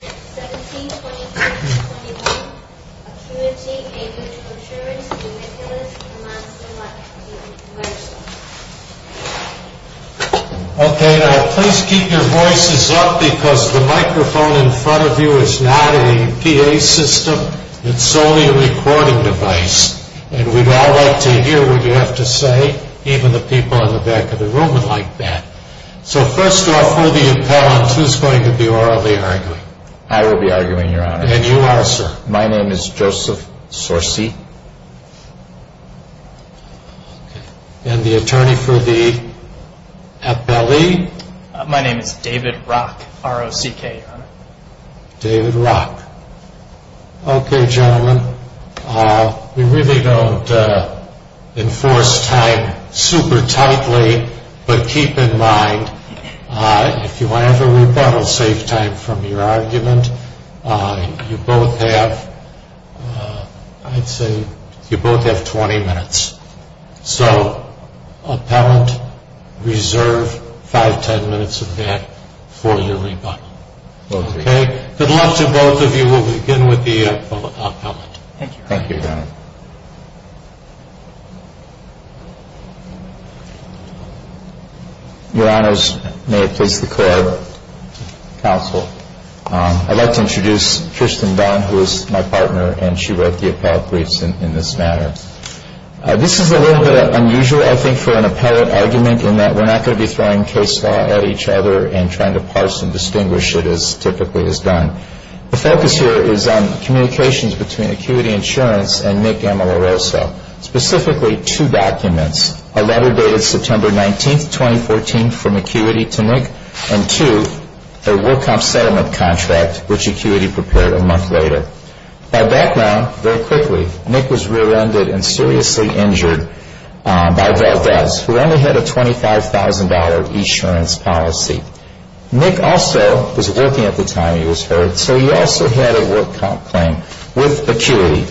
Please keep your voices up because the microphone in front of you is not a PA system, it's only a recording device. And we'd all like to hear what you have to say, even the people in the back of the room would like that. So first off, who are the appellants? Who's going to be orally arguing? I will be arguing, your honor. And you are, sir? My name is Joseph Sorce. And the attorney for the appellee? My name is David Rock, R-O-C-K, your honor. David Rock. Okay, gentlemen. We really don't enforce time super tightly, but keep in mind, if you want to have a rebuttal, save time from your argument. You both have, I'd say, you both have 20 minutes. So, appellant, reserve 5-10 minutes of that for your rebuttal. Okay? Good luck to both of you. We'll begin with the appellant. Thank you. Thank you, your honor. Your honors, may it please the court, counsel, I'd like to introduce Tristan Dunn, who is my partner, and she wrote the appellate briefs in this matter. This is a little bit unusual, I think, for an appellate argument, in that we're not going to be throwing case law at each other and trying to parse and distinguish it as typically is done. The focus here is on communications between Acuity Insurance and Nick Ameloroso, specifically two documents, a letter dated September 19, 2014, from Acuity to Nick, and two, a World Comp Settlement contract, which Acuity prepared a month later. By background, very quickly, Nick was rear-ended and seriously injured by Valdez, who only had a $25,000 insurance policy. Nick also was working at the time he was hurt, so he also had a World Comp claim with Acuity.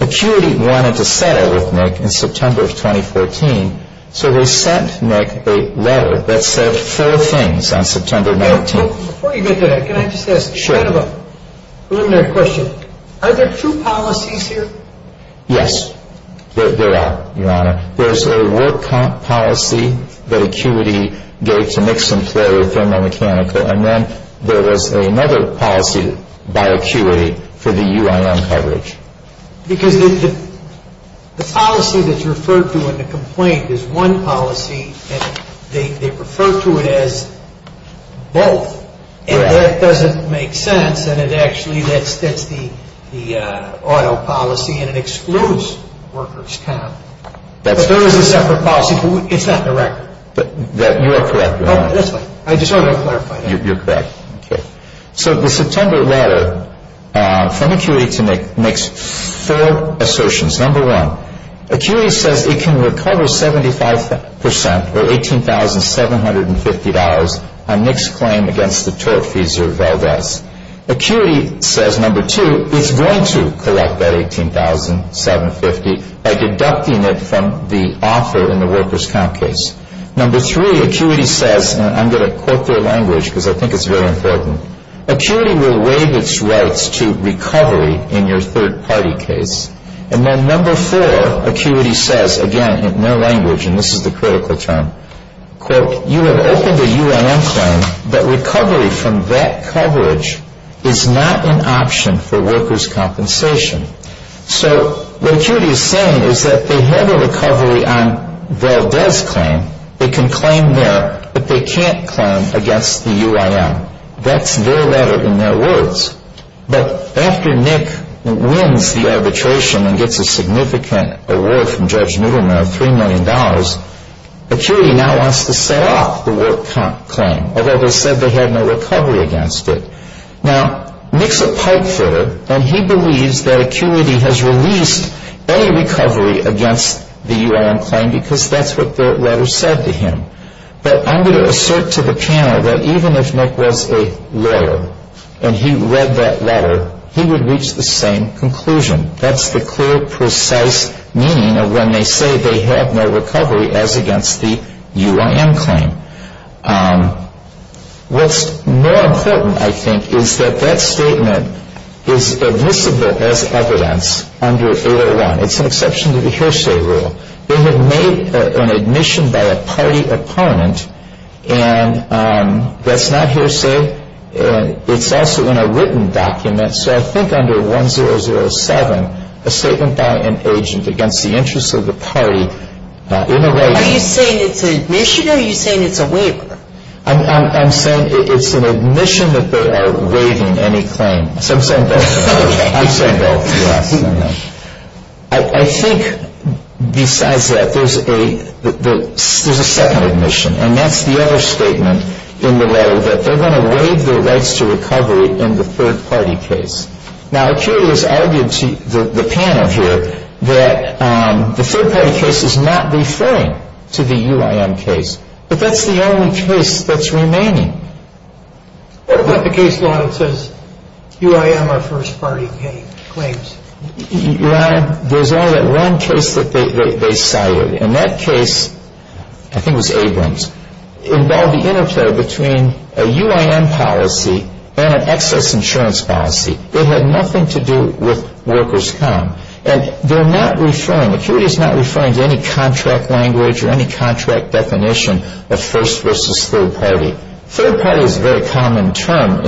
Acuity wanted to settle with Nick in September of 2014, so they sent Nick a letter that said four things on September 19. The first thing was that Nick had a $25,000 insurance policy. The third thing was that Nick had a $25,000 insurance policy. So before you get to that, can I just ask kind of a preliminary question? Are there two policies here? Yes, there are, Your Honor. There's a World Comp policy that Acuity gave to Nick's employer, Thermo Mechanical, and then there is another policy by Acuity for the UIN coverage. Because the policy that's referred to in the complaint is one policy, and they refer to it as both. Correct. And that doesn't make sense, and it actually, that's the auto policy, and it excludes workers' comp. But there is a separate policy, but it's not in the record. You are correct, Your Honor. I just want to clarify that. You're correct. Okay. So the September letter from Acuity to Nick makes four assertions. Number one, Acuity says it can recover 75 percent, or $18,750, on Nick's claim against the tort fees or VELVETS. Acuity says, number two, it's going to collect that $18,750 by deducting it from the offer in the workers' comp case. Number three, Acuity says, and I'm going to quote their language because I think it's very important, Acuity will waive its rights to recovery in your third-party case. And then number four, Acuity says, again, in their language, and this is the critical term, quote, you have opened a UIM claim, but recovery from that coverage is not an option for workers' compensation. So what Acuity is saying is that they have a recovery on VELVETS' claim. They can claim there, but they can't claim against the UIM. That's their letter in their words. But after Nick wins the arbitration and gets a significant award from Judge Nutterman of $3 million, Acuity now wants to set off the work comp claim, although they said they had no recovery against it. Now, Nick's a pipefitter, and he believes that Acuity has released any recovery against the UIM claim because that's what the letter said to him. But I'm going to assert to the panel that even if Nick was a lawyer and he read that letter, he would reach the same conclusion. That's the clear, precise meaning of when they say they have no recovery as against the UIM claim. What's more important, I think, is that that statement is admissible as evidence under 801. It's an exception to the hearsay rule. They have made an admission by a party opponent. And that's not hearsay. It's also in a written document. So I think under 1007, a statement by an agent against the interests of the party in a way. Are you saying it's an admission, or are you saying it's a waiver? I'm saying it's an admission that they are waiving any claim. So I'm saying both. Okay. I'm saying both, yes. I think besides that, there's a second admission, and that's the other statement in the letter that they're going to waive their rights to recovery in the third-party case. Now, it clearly is argued to the panel here that the third-party case is not referring to the UIM case, but that's the only case that's remaining. What about the case law that says UIM are first-party claims? Your Honor, there's only that one case that they cited. And that case, I think it was Abrams, involved the interplay between a UIM policy and an excess insurance policy. It had nothing to do with workers' com. And they're not referring, Acuity is not referring to any contract language or any contract definition of first versus third party. Third party is a very common term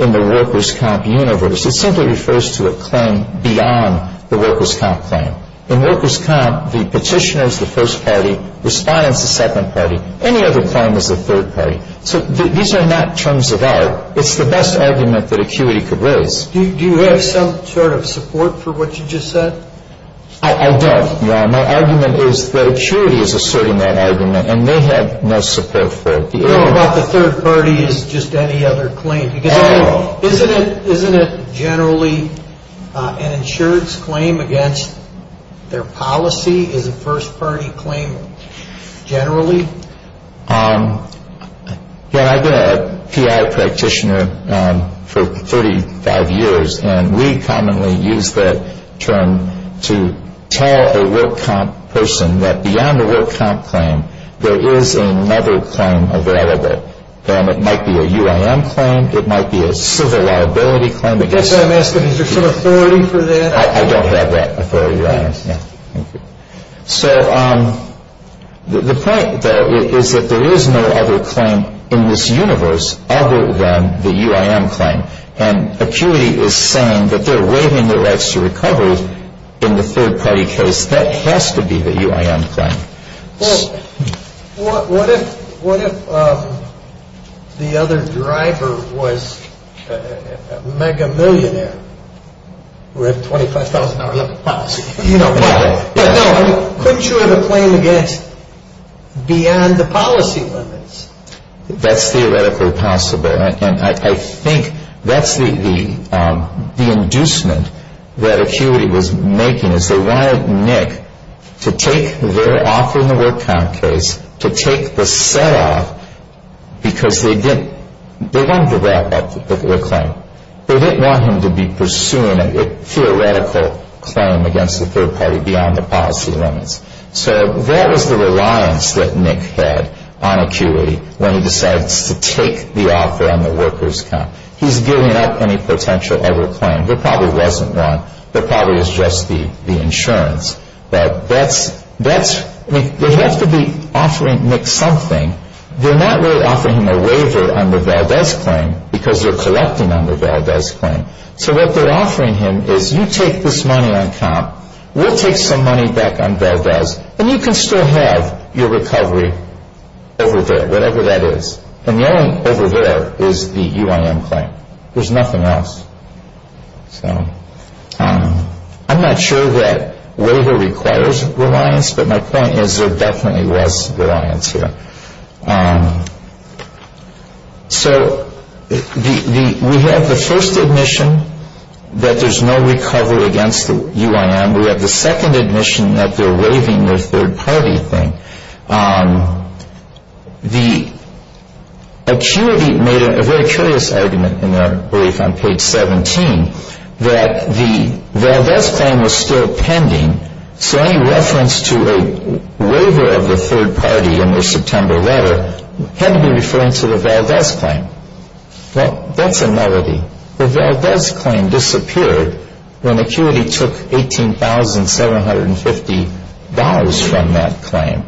in the workers' comp universe. It simply refers to a claim beyond the workers' comp claim. In workers' comp, the petitioner is the first party. Respondent is the second party. Any other claim is the third party. So these are not terms of art. It's the best argument that Acuity could raise. Do you have some sort of support for what you just said? I don't, Your Honor. My argument is that Acuity is asserting that argument, and they have no support for it. You don't know if the third party is just any other claim. No. Isn't it generally an insurance claim against their policy is a first party claim generally? I've been a PI practitioner for 35 years, and we commonly use that term to tell a workers' comp person that beyond the workers' comp claim, there is another claim available. And it might be a UIM claim. It might be a civil liability claim. I guess I'm asking, is there some authority for that? I don't have that authority, Your Honor. Yes. Thank you. So the point, though, is that there is no other claim in this universe other than the UIM claim. And Acuity is saying that they're waiving their rights to recovery in the third party case. That has to be the UIM claim. Well, what if the other driver was a mega-millionaire with a $25,000-a-month policy? You know what? No. Couldn't you have a claim against beyond the policy limits? That's theoretically possible. And I think that's the inducement that Acuity was making, is they wanted Nick to take their offer in the workers' comp case, to take the set-off, because they wanted to wrap up the particular claim. They didn't want him to be pursuing a theoretical claim against the third party beyond the policy limits. So that was the reliance that Nick had on Acuity when he decides to take the offer on the workers' comp. He's giving up any potential ever claim. There probably wasn't one. There probably was just the insurance. They have to be offering Nick something. They're not really offering him a waiver on the Valdez claim, because they're collecting on the Valdez claim. So what they're offering him is, you take this money on comp. We'll take some money back on Valdez. And you can still have your recovery over there, whatever that is. And the only over there is the UIM claim. There's nothing else. I'm not sure that waiver requires reliance, but my point is there definitely was reliance here. So we have the first admission that there's no recovery against the UIM. We have the second admission that they're waiving their third-party claim. The Acuity made a very curious argument in their brief on page 17 that the Valdez claim was still pending. So any reference to a waiver of the third party in their September letter had to be referring to the Valdez claim. Well, that's a novelty. The Valdez claim disappeared when Acuity took $18,750 from that claim.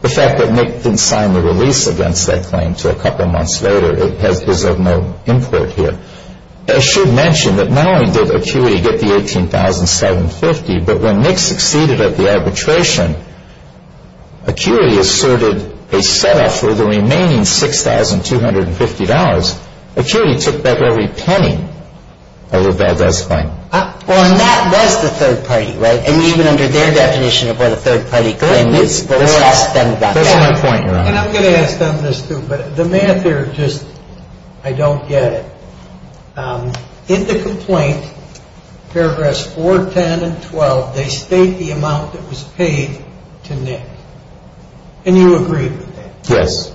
The fact that Nick didn't sign the release against that claim until a couple months later is of no import here. I should mention that not only did Acuity get the $18,750, but when Nick succeeded at the arbitration, Acuity asserted a set-off for the remaining $6,250. Acuity took back every penny of the Valdez claim. Well, and that was the third party, right? And even under their definition of what a third-party claim is, Valdez then got that. That's my point, Your Honor. And I'm going to ask on this, too, but the math here, just, I don't get it. In the complaint, paragraphs 4, 10, and 12, they state the amount that was paid to Nick. And you agree with that? Yes.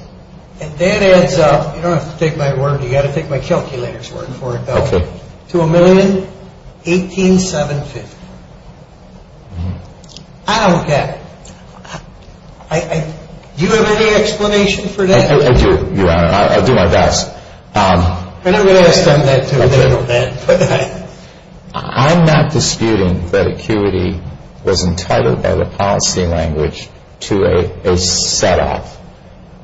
And that adds up, you don't have to take my word, you've got to take my calculator's word for it, though, to $1,018,750. I don't get it. Do you have any explanation for that? I do, Your Honor. I'll do my best. I never really asked on that to a general then. I'm not disputing that Acuity was entitled by the policy language to a set-off,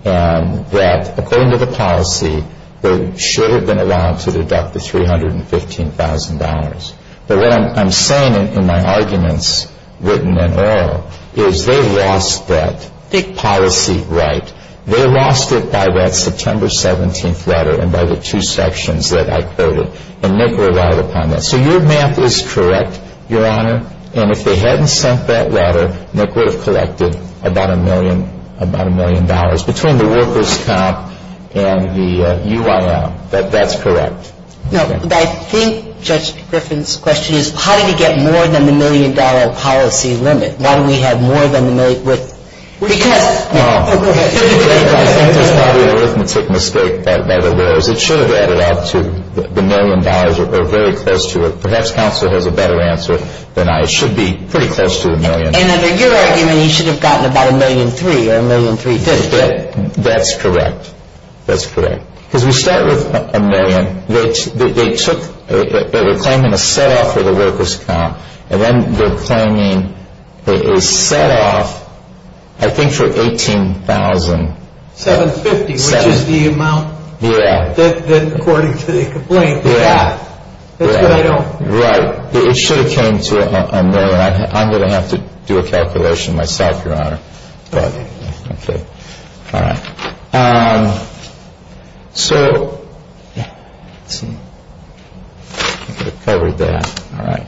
and that, according to the policy, they should have been allowed to deduct the $315,000. But what I'm saying in my arguments, written and oral, is they lost that policy right. They lost it by that September 17th letter and by the two sections that I quoted, and Nick relied upon that. So your math is correct, Your Honor, and if they hadn't sent that letter, Nick would have collected about a million dollars between the workers' comp and the UIL. That's correct. No, but I think Judge Griffin's question is, how did he get more than the million-dollar policy limit? Why do we have more than the million? Because... I think it's probably an arithmetic mistake that letter was. It should have added up to the million dollars or very close to it. Perhaps counsel has a better answer than I. It should be pretty close to a million. And under your argument, he should have gotten about a million-three or a million-three-fifths. That's correct. That's correct. Because we start with a million. They're claiming a set-off for the workers' comp, and then they're claiming a set-off, I think, for $18,750. Which is the amount that, according to the complaint, that's what I know. Right. It should have came to a million. I'm going to have to do a calculation myself, Your Honor. Okay. Okay. All right. So... Let's see. I could have covered that. All right.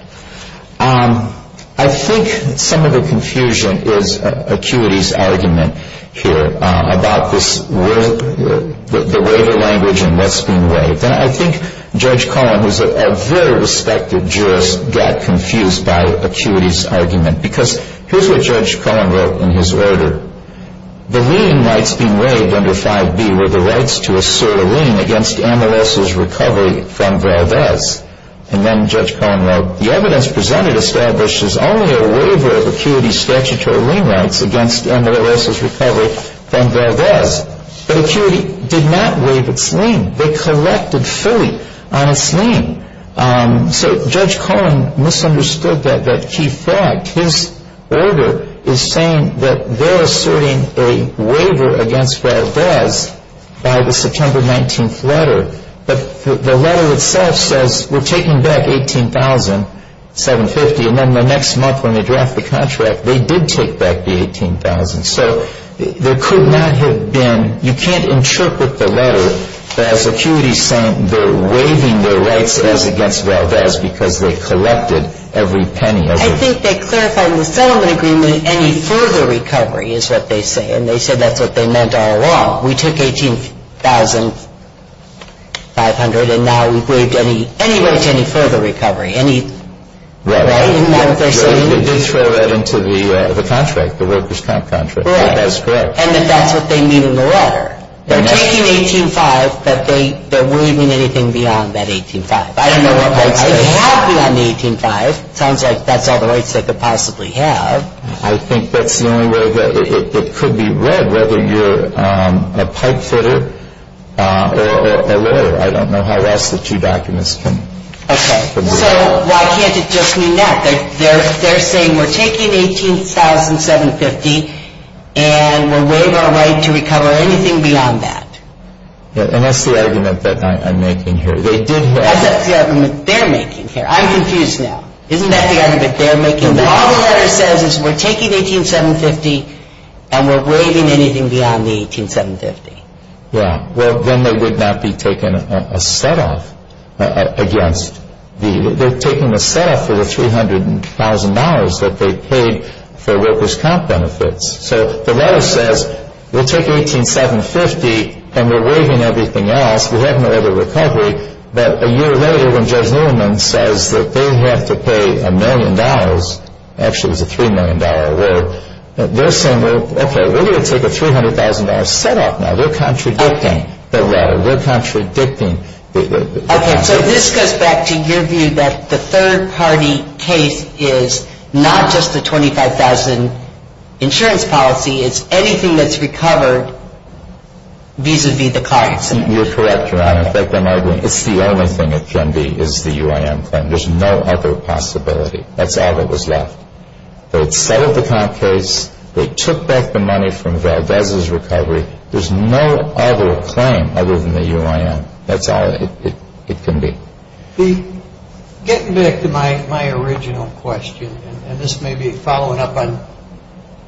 I think some of the confusion is Acuity's argument here about this waiver language and what's being waived. And I think Judge Cohen, who's a very respected jurist, got confused by Acuity's argument. Because here's what Judge Cohen wrote in his order. The lien rights being waived under 5b were the rights to assert a lien against Amales' recovery from Valdez. And then Judge Cohen wrote, The evidence presented establishes only a waiver of Acuity's statutory lien rights against Amales' recovery from Valdez. But Acuity did not waive its lien. They collected fully on its lien. So Judge Cohen misunderstood that key fact. His order is saying that they're asserting a waiver against Valdez by the September 19th letter. But the letter itself says we're taking back $18,750. And then the next month when they draft the contract, they did take back the $18,000. So there could not have been you can't interpret the letter as Acuity saying they're waiving their rights as against Valdez because they collected every penny. I think they clarified in the settlement agreement any further recovery is what they say. And they said that's what they meant all along. We took $18,500, and now we've waived any rights, any further recovery. Right? Right. They did throw that into the contract, the Ropers' Comp contract. Right. That's correct. And that's what they mean in the letter. They're taking $18,500, but they're waiving anything beyond that $18,500. I don't know what rights they have beyond the $18,500. It sounds like that's all the rights they could possibly have. I think that's the only way that it could be read, whether you're a pipefitter or a lawyer. I don't know how else the two documents can be read. Okay. So why can't it just mean that? They're saying we're taking $18,750, and we're waiving our right to recover anything beyond that. And that's the argument that I'm making here. They did have to. That's the argument they're making here. I'm confused now. Isn't that the argument they're making? All the letter says is we're taking $18,750, and we're waiving anything beyond the $18,750. Yeah. Well, then they would not be taking a set-off against the – they're taking a set-off for the $300,000 that they paid for Ropers' Comp benefits. So the letter says we'll take $18,750, and we're waiving everything else. We have no other recovery. But a year later when Judge Newman says that they have to pay $1 million – actually, it was a $3 million award – they're saying, okay, we're going to take a $300,000 set-off now. They're contradicting the letter. They're contradicting the – Okay. So this goes back to your view that the third-party case is not just the $25,000 insurance policy. It's anything that's recovered vis-à-vis the cost. You're correct, Your Honor. In fact, I'm arguing it's the only thing it can be is the UIM claim. There's no other possibility. That's all that was left. They had settled the comp case. They took back the money from Valdez's recovery. There's no other claim other than the UIM. That's all it can be. Getting back to my original question, and this may be following up on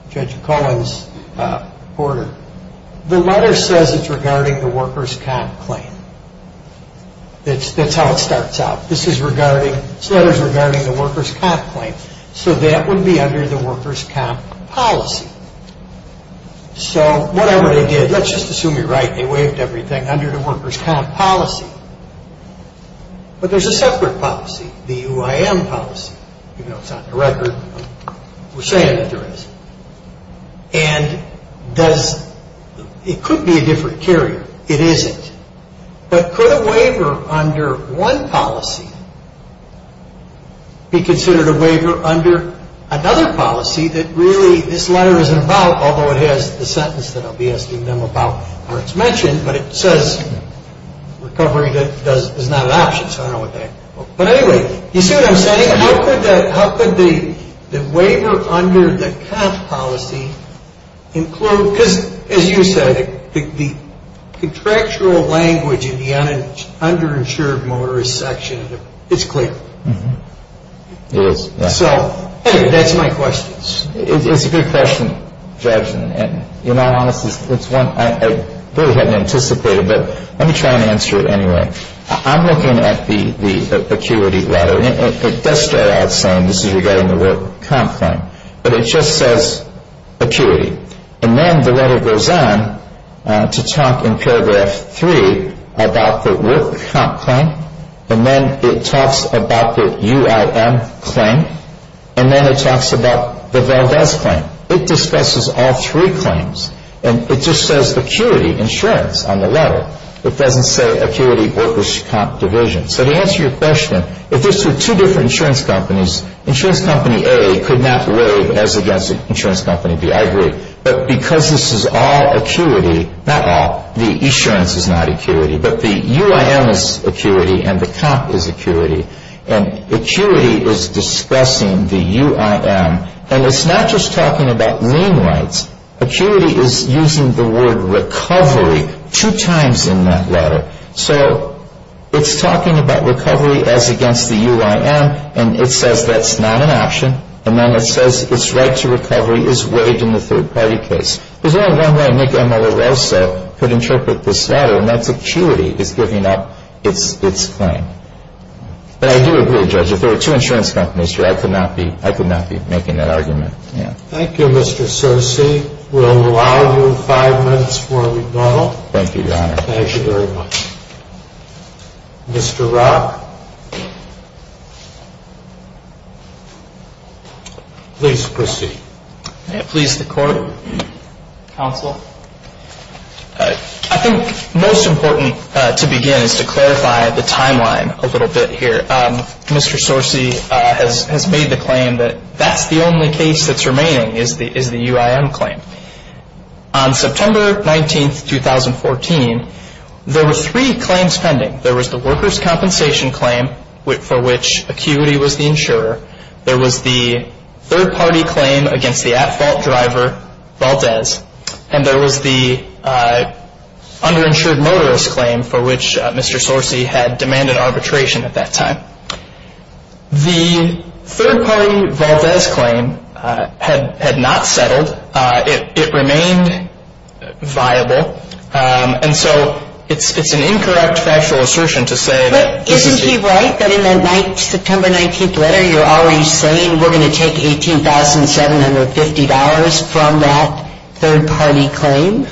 Judge Cohen's order, the letter says it's regarding the workers' comp claim. That's how it starts out. This letter's regarding the workers' comp claim. So that would be under the workers' comp policy. So whatever they did, let's just assume you're right. They waived everything under the workers' comp policy. But there's a separate policy, the UIM policy. Even though it's not in the record, we're saying that there is. And it could be a different carrier. It isn't. But could a waiver under one policy be considered a waiver under another policy that really this letter isn't about, although it has the sentence that I'll be asking them about where it's mentioned, but it says recovery is not an option, so I don't know what that is. But anyway, you see what I'm saying? How could the waiver under the comp policy include, because as you said, the contractual language in the underinsured motorist section is clear. It is. So anyway, that's my question. It's a good question, Judge. And in all honesty, it's one I really hadn't anticipated. But let me try and answer it anyway. I'm looking at the acuity letter. It does start out saying this is regarding the worker comp claim, but it just says acuity. And then the letter goes on to talk in paragraph 3 about the worker comp claim, and then it talks about the UIM claim, and then it talks about the Valdez claim. It discusses all three claims. And it just says acuity insurance on the letter. It doesn't say acuity workers' comp division. So to answer your question, if this were two different insurance companies, insurance company A could not waive as against insurance company B. I agree. But because this is all acuity, not all, the insurance is not acuity, but the UIM is acuity, and the comp is acuity, and acuity is discussing the UIM. And it's not just talking about lien rights. Acuity is using the word recovery two times in that letter. So it's talking about recovery as against the UIM, and it says that's not an option. And then it says its right to recovery is waived in the third-party case. There's only one way Nick Amoroso could interpret this letter, and that's acuity is giving up its claim. But I do agree, Judge. If there were two insurance companies here, I could not be making that argument. Thank you, Mr. Cerci. We'll allow you five minutes for rebuttal. Thank you, Your Honor. Thank you very much. Mr. Rock, please proceed. May it please the Court, Counsel. I think most important to begin is to clarify the timeline a little bit here. Mr. Cerci has made the claim that that's the only case that's remaining is the UIM claim. On September 19, 2014, there were three claims pending. There was the workers' compensation claim for which Acuity was the insurer. There was the third-party claim against the at-fault driver, Valdez. And there was the underinsured motorist claim for which Mr. Cerci had demanded arbitration at that time. The third-party Valdez claim had not settled. It remained viable. And so it's an incorrect factual assertion to say that this is the case. But isn't he right that in the September 19th letter you're already saying we're going to take $18,750 from that third-party claim?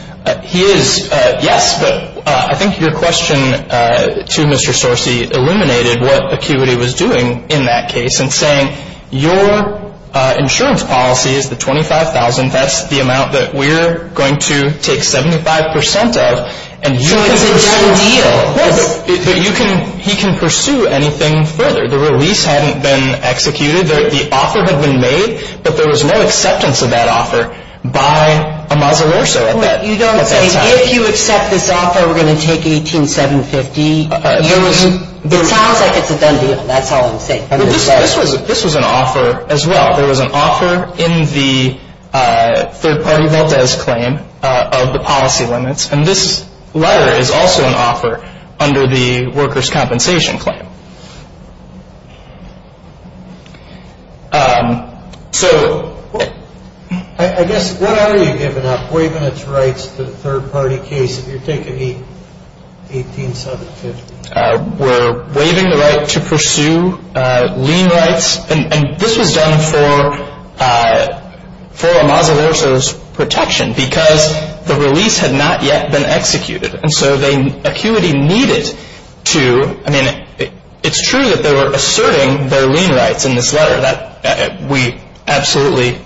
He is, yes. But I think your question to Mr. Cerci illuminated what Acuity was doing in that case in saying your insurance policy is the $25,000. That's the amount that we're going to take 75 percent of. So it's a done deal. Yes. But he can pursue anything further. The release hadn't been executed. The offer had been made, but there was no acceptance of that offer by Amasa Lorso at that time. You don't say if you accept this offer, we're going to take $18,750. It sounds like it's a done deal. That's all I'm saying. This was an offer as well. There was an offer in the third-party Valdez claim of the policy limits. And this letter is also an offer under the workers' compensation claim. So I guess what are you giving up, waiving its rights to the third-party case if you're taking $18,750? We're waiving the right to pursue lien rights. And this was done for Amasa Lorso's protection because the release had not yet been executed. And so ACUITY needed to – I mean, it's true that they were asserting their lien rights in this letter. We absolutely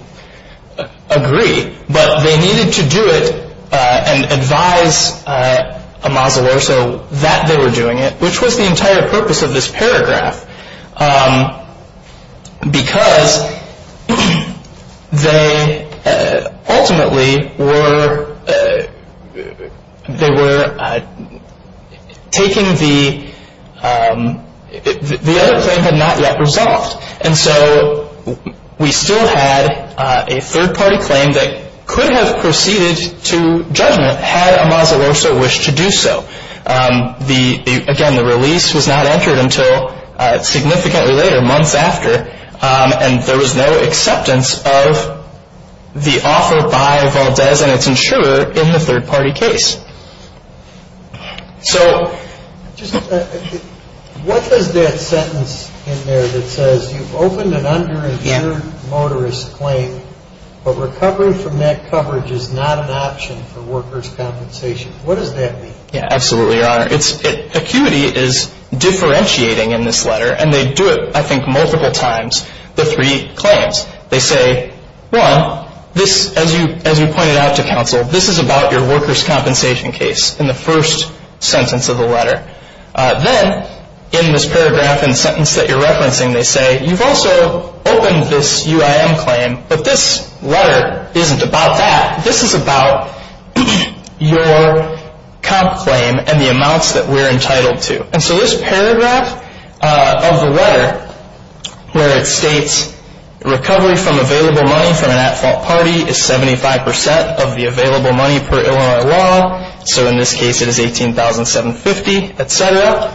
agree. But they needed to do it and advise Amasa Lorso that they were doing it, which was the entire purpose of this paragraph because they ultimately were taking the – the other claim had not yet resolved. And so we still had a third-party claim that could have proceeded to judgment had Amasa Lorso wished to do so. The – again, the release was not entered until significantly later, months after. And there was no acceptance of the offer by Valdez and its insurer in the third-party case. So just – what does that sentence in there that says you've opened an underinsured motorist claim, but recovery from that coverage is not an option for workers' compensation, what does that mean? Yeah, absolutely, Your Honor. It's – ACUITY is differentiating in this letter, and they do it, I think, multiple times, the three claims. They say, one, this – as you – as we pointed out to counsel, this is about your workers' compensation case in the first sentence of the letter. Then in this paragraph and sentence that you're referencing, they say, you've also opened this UIM claim, but this letter isn't about that. This is about your comp claim and the amounts that we're entitled to. And so this paragraph of the letter where it states recovery from available money from an at-fault party is 75 percent of the available money per Illinois law, so in this case it is $18,750, et cetera,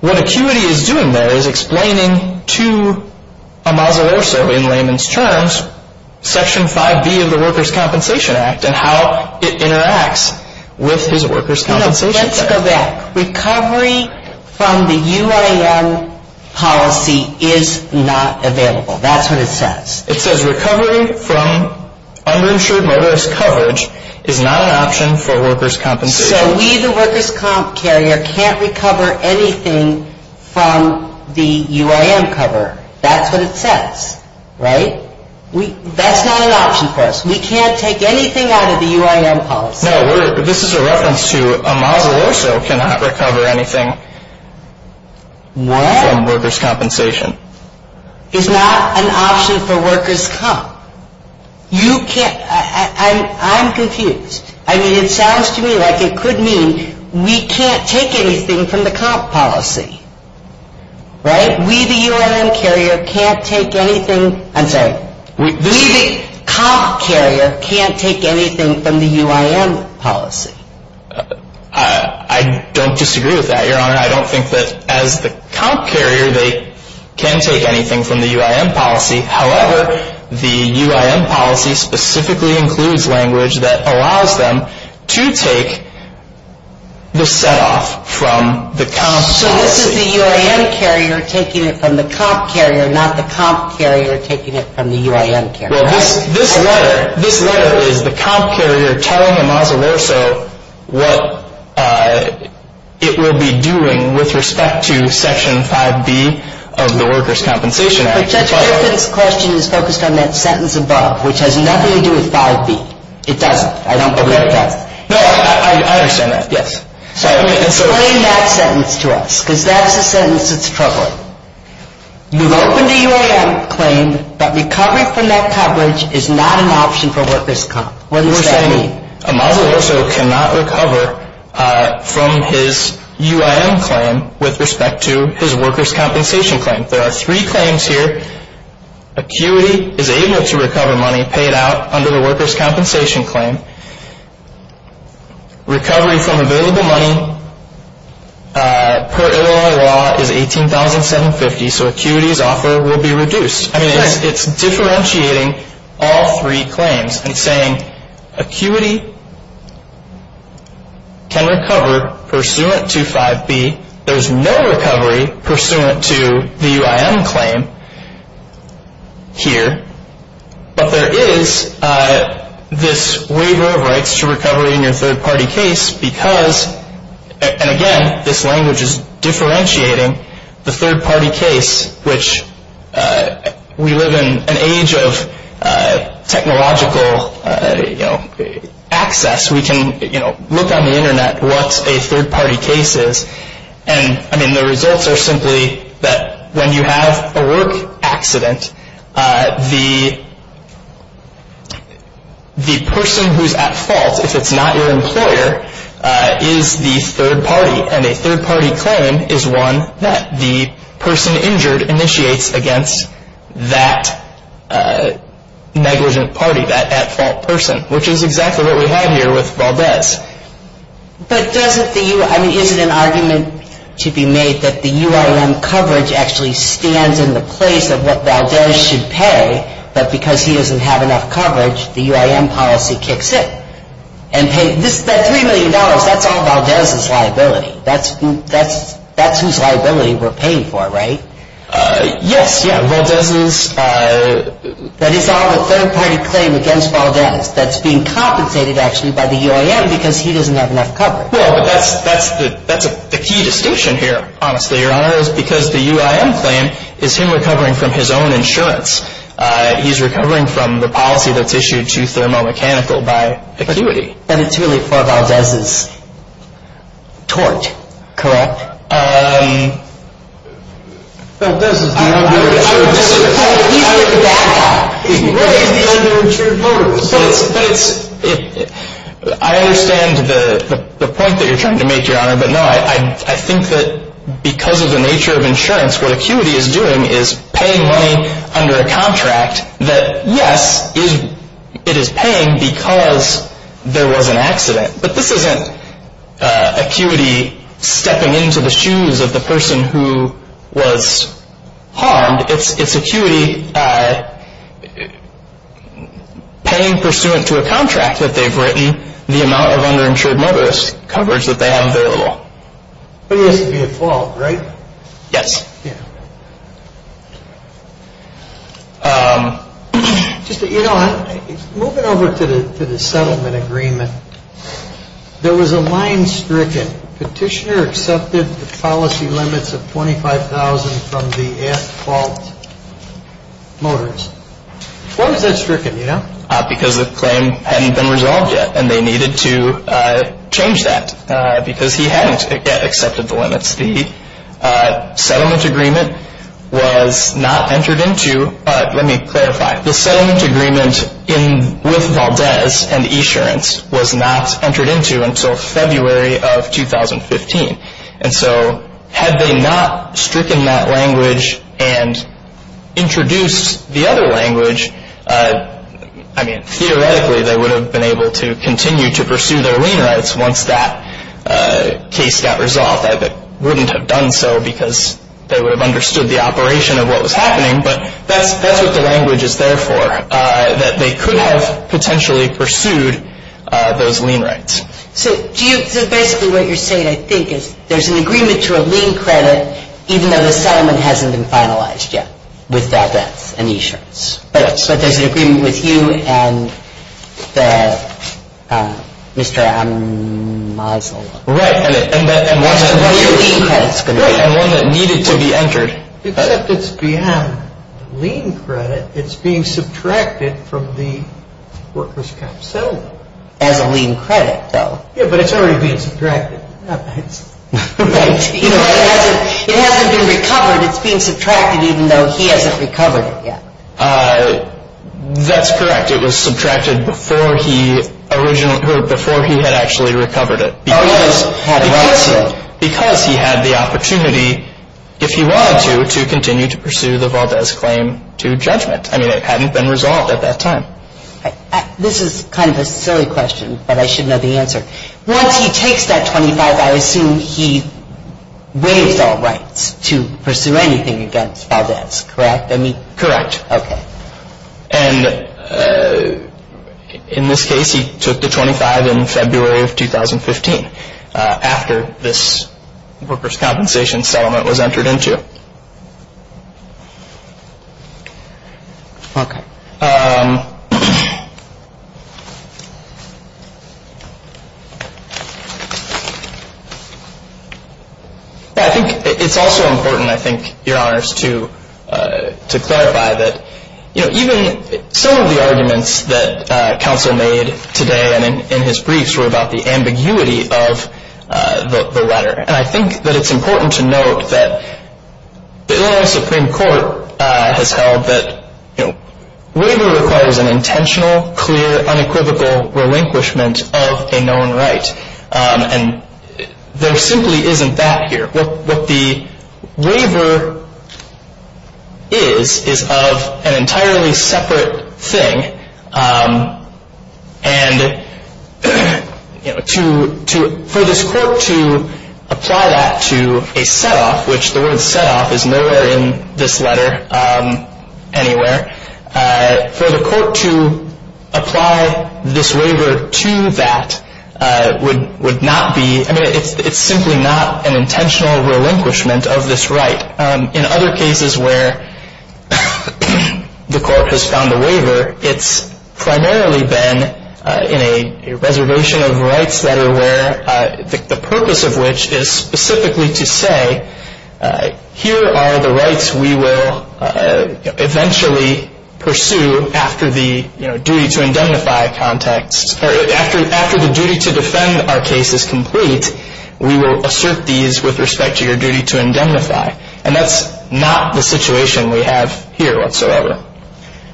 What ACUITY is doing there is explaining to a mausolosa in layman's terms Section 5B of the Workers' Compensation Act and how it interacts with his workers' compensation claim. Let's go back. Recovery from the UIM policy is not available. That's what it says. It says recovery from underinsured motorist coverage is not an option for workers' compensation. So we, the workers' comp carrier, can't recover anything from the UIM cover. That's what it says, right? That's not an option for us. We can't take anything out of the UIM policy. No, this is a reference to a mausolosa cannot recover anything from workers' compensation. You can't... I'm confused. I mean, it sounds to me like it could mean we can't take anything from the comp policy, right? We, the UIM carrier, can't take anything... I'm sorry. We, the comp carrier, can't take anything from the UIM policy. I don't disagree with that, Your Honor. I don't think that as the comp carrier they can take anything from the UIM policy. However, the UIM policy specifically includes language that allows them to take the set-off from the comp policy. So this is the UIM carrier taking it from the comp carrier, not the comp carrier taking it from the UIM carrier. Well, this letter is the comp carrier telling a mausoloso what it will be doing with respect to Section 5B of the Workers' Compensation Act. Your Honor, Judge Fairfax's question is focused on that sentence above, which has nothing to do with 5B. It doesn't. I don't believe that. No, I understand that, yes. So explain that sentence to us, because that's the sentence that's troubling. You've opened a UIM claim, but recovery from that coverage is not an option for workers' comp. What does that mean? You're saying a mausoloso cannot recover from his UIM claim with respect to his workers' compensation claim. There are three claims here. Acuity is able to recover money paid out under the workers' compensation claim. Recovery from available money per Illinois law is $18,750, so acuity's offer will be reduced. I mean, it's differentiating all three claims. And it's saying acuity can recover pursuant to 5B. There's no recovery pursuant to the UIM claim here, but there is this waiver of rights to recovery in your third-party case because, and again, this language is differentiating the third-party case, which we live in an age of technological access. We can look on the Internet what a third-party case is, and the results are simply that when you have a work accident, the person who's at fault, if it's not your employer, is the third-party. And a third-party claim is one that the person injured initiates against that negligent party, that at-fault person, which is exactly what we have here with Valdez. But is it an argument to be made that the UIM coverage actually stands in the place of what Valdez should pay, but because he doesn't have enough coverage, the UIM policy kicks in? That $3 million, that's all Valdez's liability. That's whose liability we're paying for, right? Yes, yeah, Valdez's... That is all the third-party claim against Valdez that's being compensated, actually, by the UIM because he doesn't have enough coverage. Well, but that's the key distinction here, honestly, Your Honor, is because the UIM claim is him recovering from his own insurance. He's recovering from the policy that's issued to Thermo Mechanical by ACQUITY. But it's really for Valdez's tort, correct? Valdez is the under-insured motorist. He's the under-insured motorist. I understand the point that you're trying to make, Your Honor, but no, I think that because of the nature of insurance, what ACQUITY is doing is paying money under a contract that, yes, it is paying because there was an accident. But this isn't ACQUITY stepping into the shoes of the person who was harmed. It's ACQUITY paying pursuant to a contract that they've written the amount of under-insured motorist coverage that they have available. But it has to be default, right? Yes. You know, moving over to the settlement agreement, there was a line stricken. Petitioner accepted the policy limits of $25,000 from the at-fault motorist. Why was that stricken, you know? Because the claim hadn't been resolved yet, and they needed to change that because he hadn't yet accepted the limits. The settlement agreement was not entered into. Let me clarify. The settlement agreement with Valdez and eAssurance was not entered into until February of 2015. And so had they not stricken that language and introduced the other language, I mean, theoretically, they would have been able to continue to pursue their lien rights once that case got resolved. I wouldn't have done so because they would have understood the operation of what was happening, but that's what the language is there for, that they could have potentially pursued those lien rights. So basically what you're saying, I think, is there's an agreement to a lien credit, even though the settlement hasn't been finalized yet with Valdez and eAssurance. Yes. But there's an agreement with you and the Mr. Ammazel. Right. And what's your lien credit going to be? Right. And one that needed to be entered. Except it's beyond lien credit. It's being subtracted from the workers' comp settlement. As a lien credit, though. Yeah, but it's already being subtracted. Right. You know, it hasn't been recovered. It's being subtracted even though he hasn't recovered it yet. That's correct. It was subtracted before he had actually recovered it. Because he had the opportunity, if he wanted to, to continue to pursue the Valdez claim to judgment. I mean, it hadn't been resolved at that time. This is kind of a silly question, but I should know the answer. Once he takes that 25, I assume he waives all rights to pursue anything against Valdez, correct? Correct. Okay. And in this case, he took the 25 in February of 2015 after this workers' compensation settlement was entered into. Okay. I think it's also important, I think, Your Honors, to clarify that, you know, even some of the arguments that counsel made today and in his briefs were about the ambiguity of the letter. And I think that it's important to note that the Illinois Supreme Court has held that, you know, waiver requires an intentional, clear, unequivocal relinquishment of a known right. And there simply isn't that here. What the waiver is is of an entirely separate thing. And, you know, to, for this court to apply that to a setoff, which the word setoff is nowhere in this letter anywhere, for the court to apply this waiver to that would not be, I mean, it's simply not an intentional relinquishment of this right. But in other cases where the court has found the waiver, it's primarily been in a reservation of rights letter where the purpose of which is specifically to say, here are the rights we will eventually pursue after the, you know, duty to indemnify context, or after the duty to defend our case is complete, we will assert these with respect to your duty to indemnify. And that's not the situation we have here whatsoever.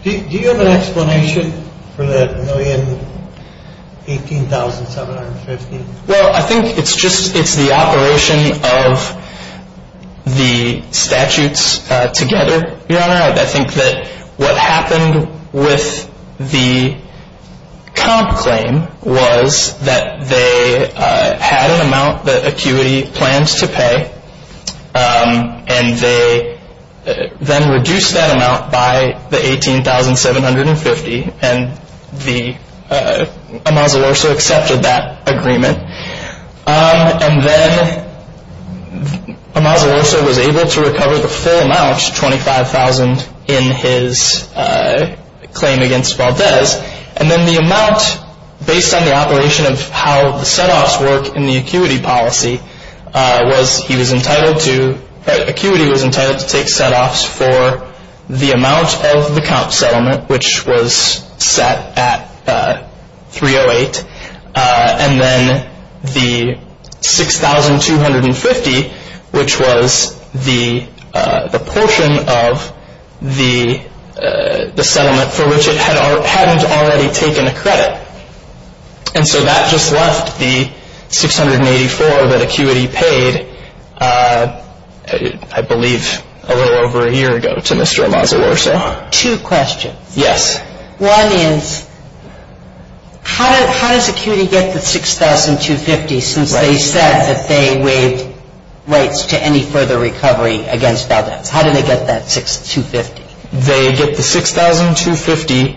Do you have an explanation for that million 18,750? Well, I think it's just it's the operation of the statutes together, Your Honor. I think that what happened with the comp claim was that they had an amount that ACUITY plans to pay. And they then reduced that amount by the 18,750. And the Amazo-Urso accepted that agreement. And then Amazo-Urso was able to recover the full amount, 25,000, in his claim against Valdez. And then the amount, based on the operation of how the setoffs work in the ACUITY policy, was he was entitled to, ACUITY was entitled to take setoffs for the amount of the comp settlement, which was set at 308. And then the 6,250, which was the portion of the settlement for which it hadn't already taken a credit. And so that just left the 684 that ACUITY paid, I believe, a little over a year ago to Mr. Amazo-Urso. Two questions. Yes. One is, how does ACUITY get the 6,250 since they said that they waived rights to any further recovery against Valdez? How did they get that 6,250? They get the 6,250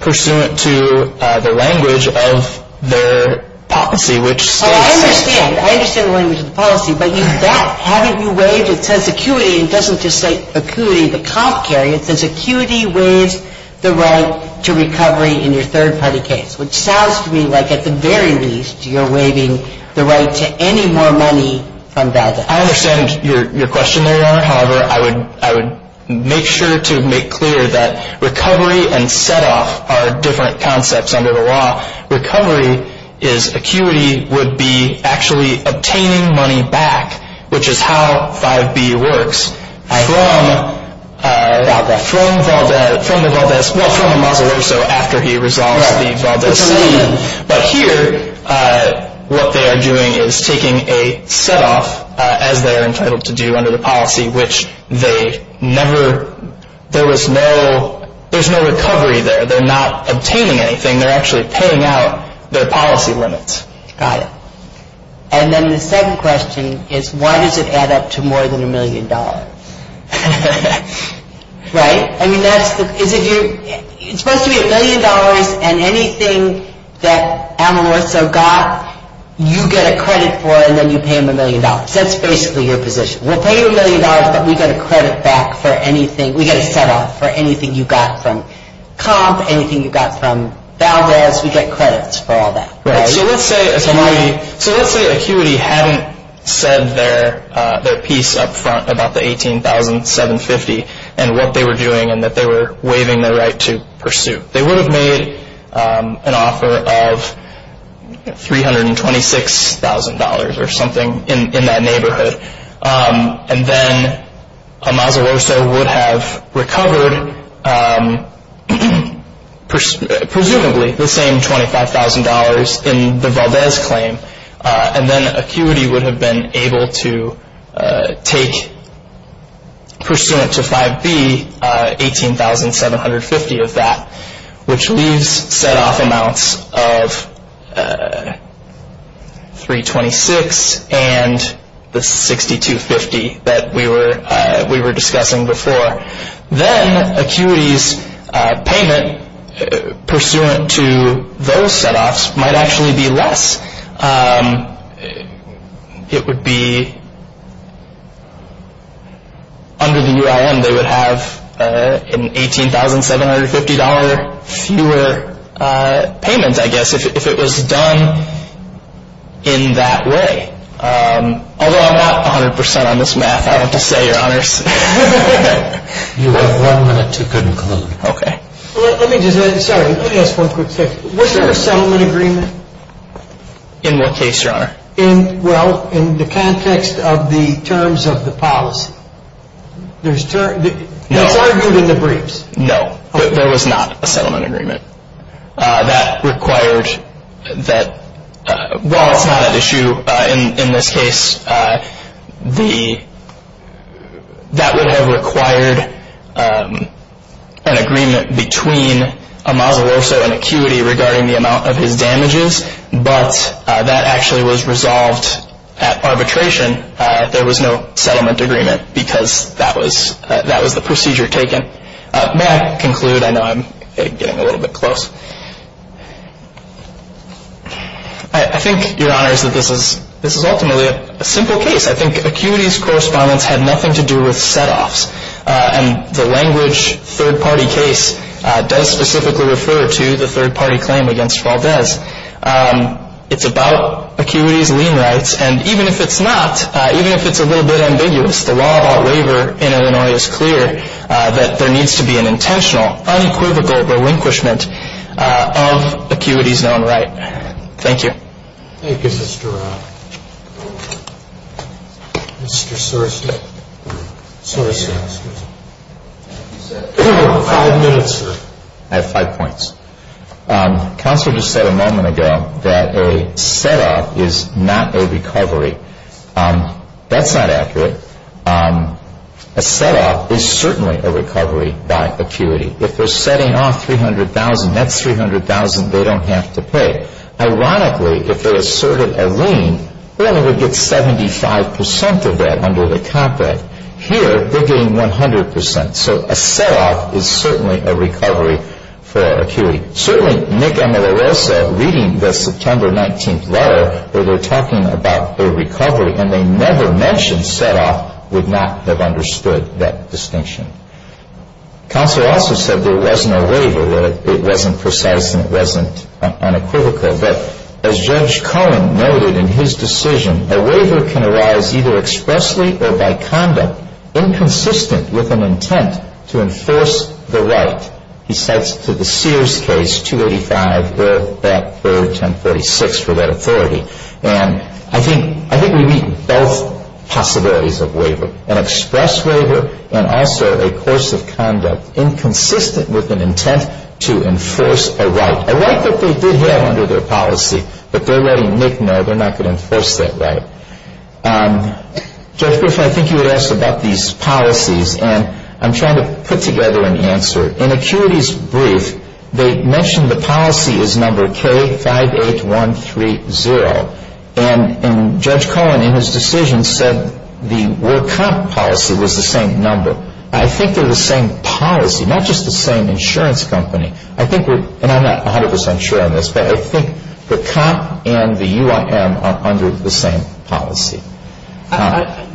pursuant to the language of their policy, which states… Well, I understand. I understand the language of the policy. But you bet. Haven't you waived? It says ACUITY. It doesn't just say ACUITY, the comp carry. It says ACUITY waives the right to recovery in your third-party case, which sounds to me like, at the very least, you're waiving the right to any more money from Valdez. I understand your question, Your Honor. However, I would make sure to make clear that recovery and set-off are different concepts under the law. Recovery is ACUITY would be actually obtaining money back, which is how 5B works, from Valdez, well, from Amazo-Urso after he resolves the Valdez settlement. But here, what they are doing is taking a set-off, as they are entitled to do under the policy, which they never – there was no – there's no recovery there. They're not obtaining anything. They're actually paying out their policy limits. Got it. And then the second question is, why does it add up to more than a million dollars? Right? It's supposed to be a million dollars, and anything that Amazo-Urso got, you get a credit for, and then you pay him a million dollars. That's basically your position. We'll pay you a million dollars, but we get a credit back for anything – we get a set-off for anything you got from COMP, anything you got from Valdez. We get credits for all that. So let's say ACUITY hadn't said their piece up front about the $18,750 and what they were doing and that they were waiving their right to pursue. They would have made an offer of $326,000 or something in that neighborhood, and then Amazo-Urso would have recovered presumably the same $25,000 in the Valdez claim, and then ACUITY would have been able to take, pursuant to 5B, $18,750 of that, which leaves set-off amounts of $326,000 and the $6,250 that we were discussing before. Then ACUITY's payment, pursuant to those set-offs, might actually be less. It would be, under the UIM, they would have an $18,750 fewer payment, I guess, if it was done in that way. Although I'm not 100% on this math I want to say, Your Honors. You have one minute to conclude. Okay. Let me just, sorry, let me ask one quick question. Was there a settlement agreement? In what case, Your Honor? In, well, in the context of the terms of the policy. There's terms, it's argued in the briefs. No, there was not a settlement agreement. That required that, while it's not at issue in this case, that would have required an agreement between Amasa Lorso and ACUITY regarding the amount of his damages, but that actually was resolved at arbitration. There was no settlement agreement because that was the procedure taken. May I conclude? I know I'm getting a little bit close. I think, Your Honors, that this is ultimately a simple case. I think ACUITY's correspondence had nothing to do with set-offs, and the language third-party case does specifically refer to the third-party claim against Valdez. It's about ACUITY's lien rights, and even if it's not, even if it's a little bit ambiguous, the law of all labor in Illinois is clear that there needs to be an intentional, unequivocal relinquishment of ACUITY's known right. Thank you. Thank you, Mr. Soros. Five minutes, sir. I have five points. Counsel just said a moment ago that a set-off is not a recovery. That's not accurate. A set-off is certainly a recovery by ACUITY. If they're setting off $300,000, that's $300,000 they don't have to pay. Ironically, if they asserted a lien, Illinois would get 75 percent of that under the Comp Act. Here, they're getting 100 percent. So a set-off is certainly a recovery for ACUITY. Certainly Nick Amorosa, reading the September 19th letter where they're talking about a recovery and they never mentioned set-off, would not have understood that distinction. Counsel also said there wasn't a waiver, that it wasn't precise and it wasn't unequivocal. But as Judge Cohen noted in his decision, a waiver can arise either expressly or by conduct, inconsistent with an intent to enforce the right. He cites to the Sears case, 285, that 1046 for that authority. And I think we meet both possibilities of waiver, an express waiver and also a course of conduct, inconsistent with an intent to enforce a right, a right that they did have under their policy. But they're letting Nick know they're not going to enforce that right. Judge Grisham, I think you had asked about these policies. And I'm trying to put together an answer. In ACUITY's brief, they mentioned the policy is number K58130. And Judge Cohen, in his decision, said the World Comp policy was the same number. I think they're the same policy, not just the same insurance company. I think we're, and I'm not 100 percent sure on this, but I think the Comp and the UIM are under the same policy.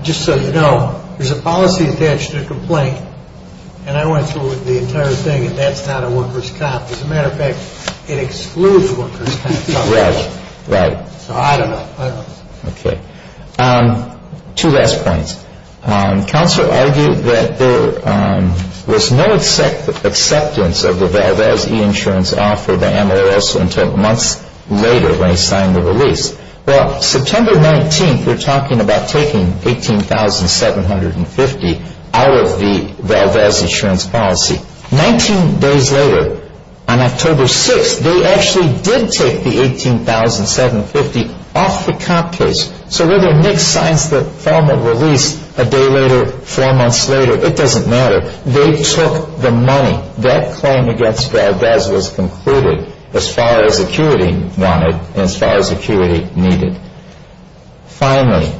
Just so you know, there's a policy attached to the complaint. And I went through the entire thing, and that's not a workers' comp. As a matter of fact, it excludes workers' comp. Right, right. So I don't know. Okay. Two last points. Counselor argued that there was no acceptance of the Valves E-Insurance offer by MLS until months later when he signed the release. Well, September 19th, we're talking about taking 18,750 out of the Valves E-Insurance policy. Nineteen days later, on October 6th, they actually did take the 18,750 off the comp case. So whether Nick signs the formal release a day later, four months later, it doesn't matter. They took the money. That claim against Valves was concluded as far as acuity wanted and as far as acuity needed. Finally,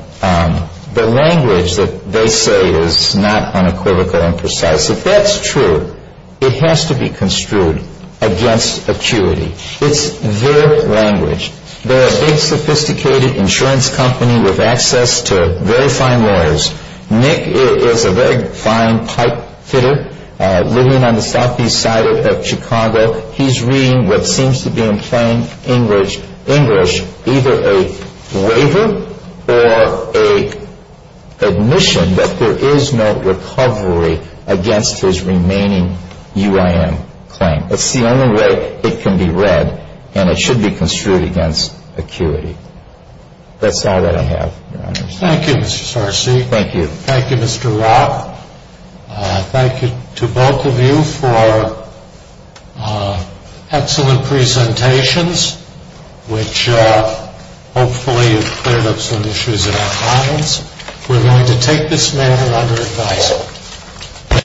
the language that they say is not unequivocal and precise. If that's true, it has to be construed against acuity. It's their language. They're a big, sophisticated insurance company with access to very fine lawyers. Nick is a very fine pipe fitter living on the southeast side of Chicago. He's reading what seems to be in plain English either a waiver or an admission that there is no recovery against his remaining UIM claim. It's the only way it can be read, and it should be construed against acuity. That's all that I have, Your Honors. Thank you, Mr. Sarsi. Thank you. Thank you, Mr. Rock. Thank you to both of you for excellent presentations, which hopefully have cleared up some issues in our comments. We're going to take this matter under advisement.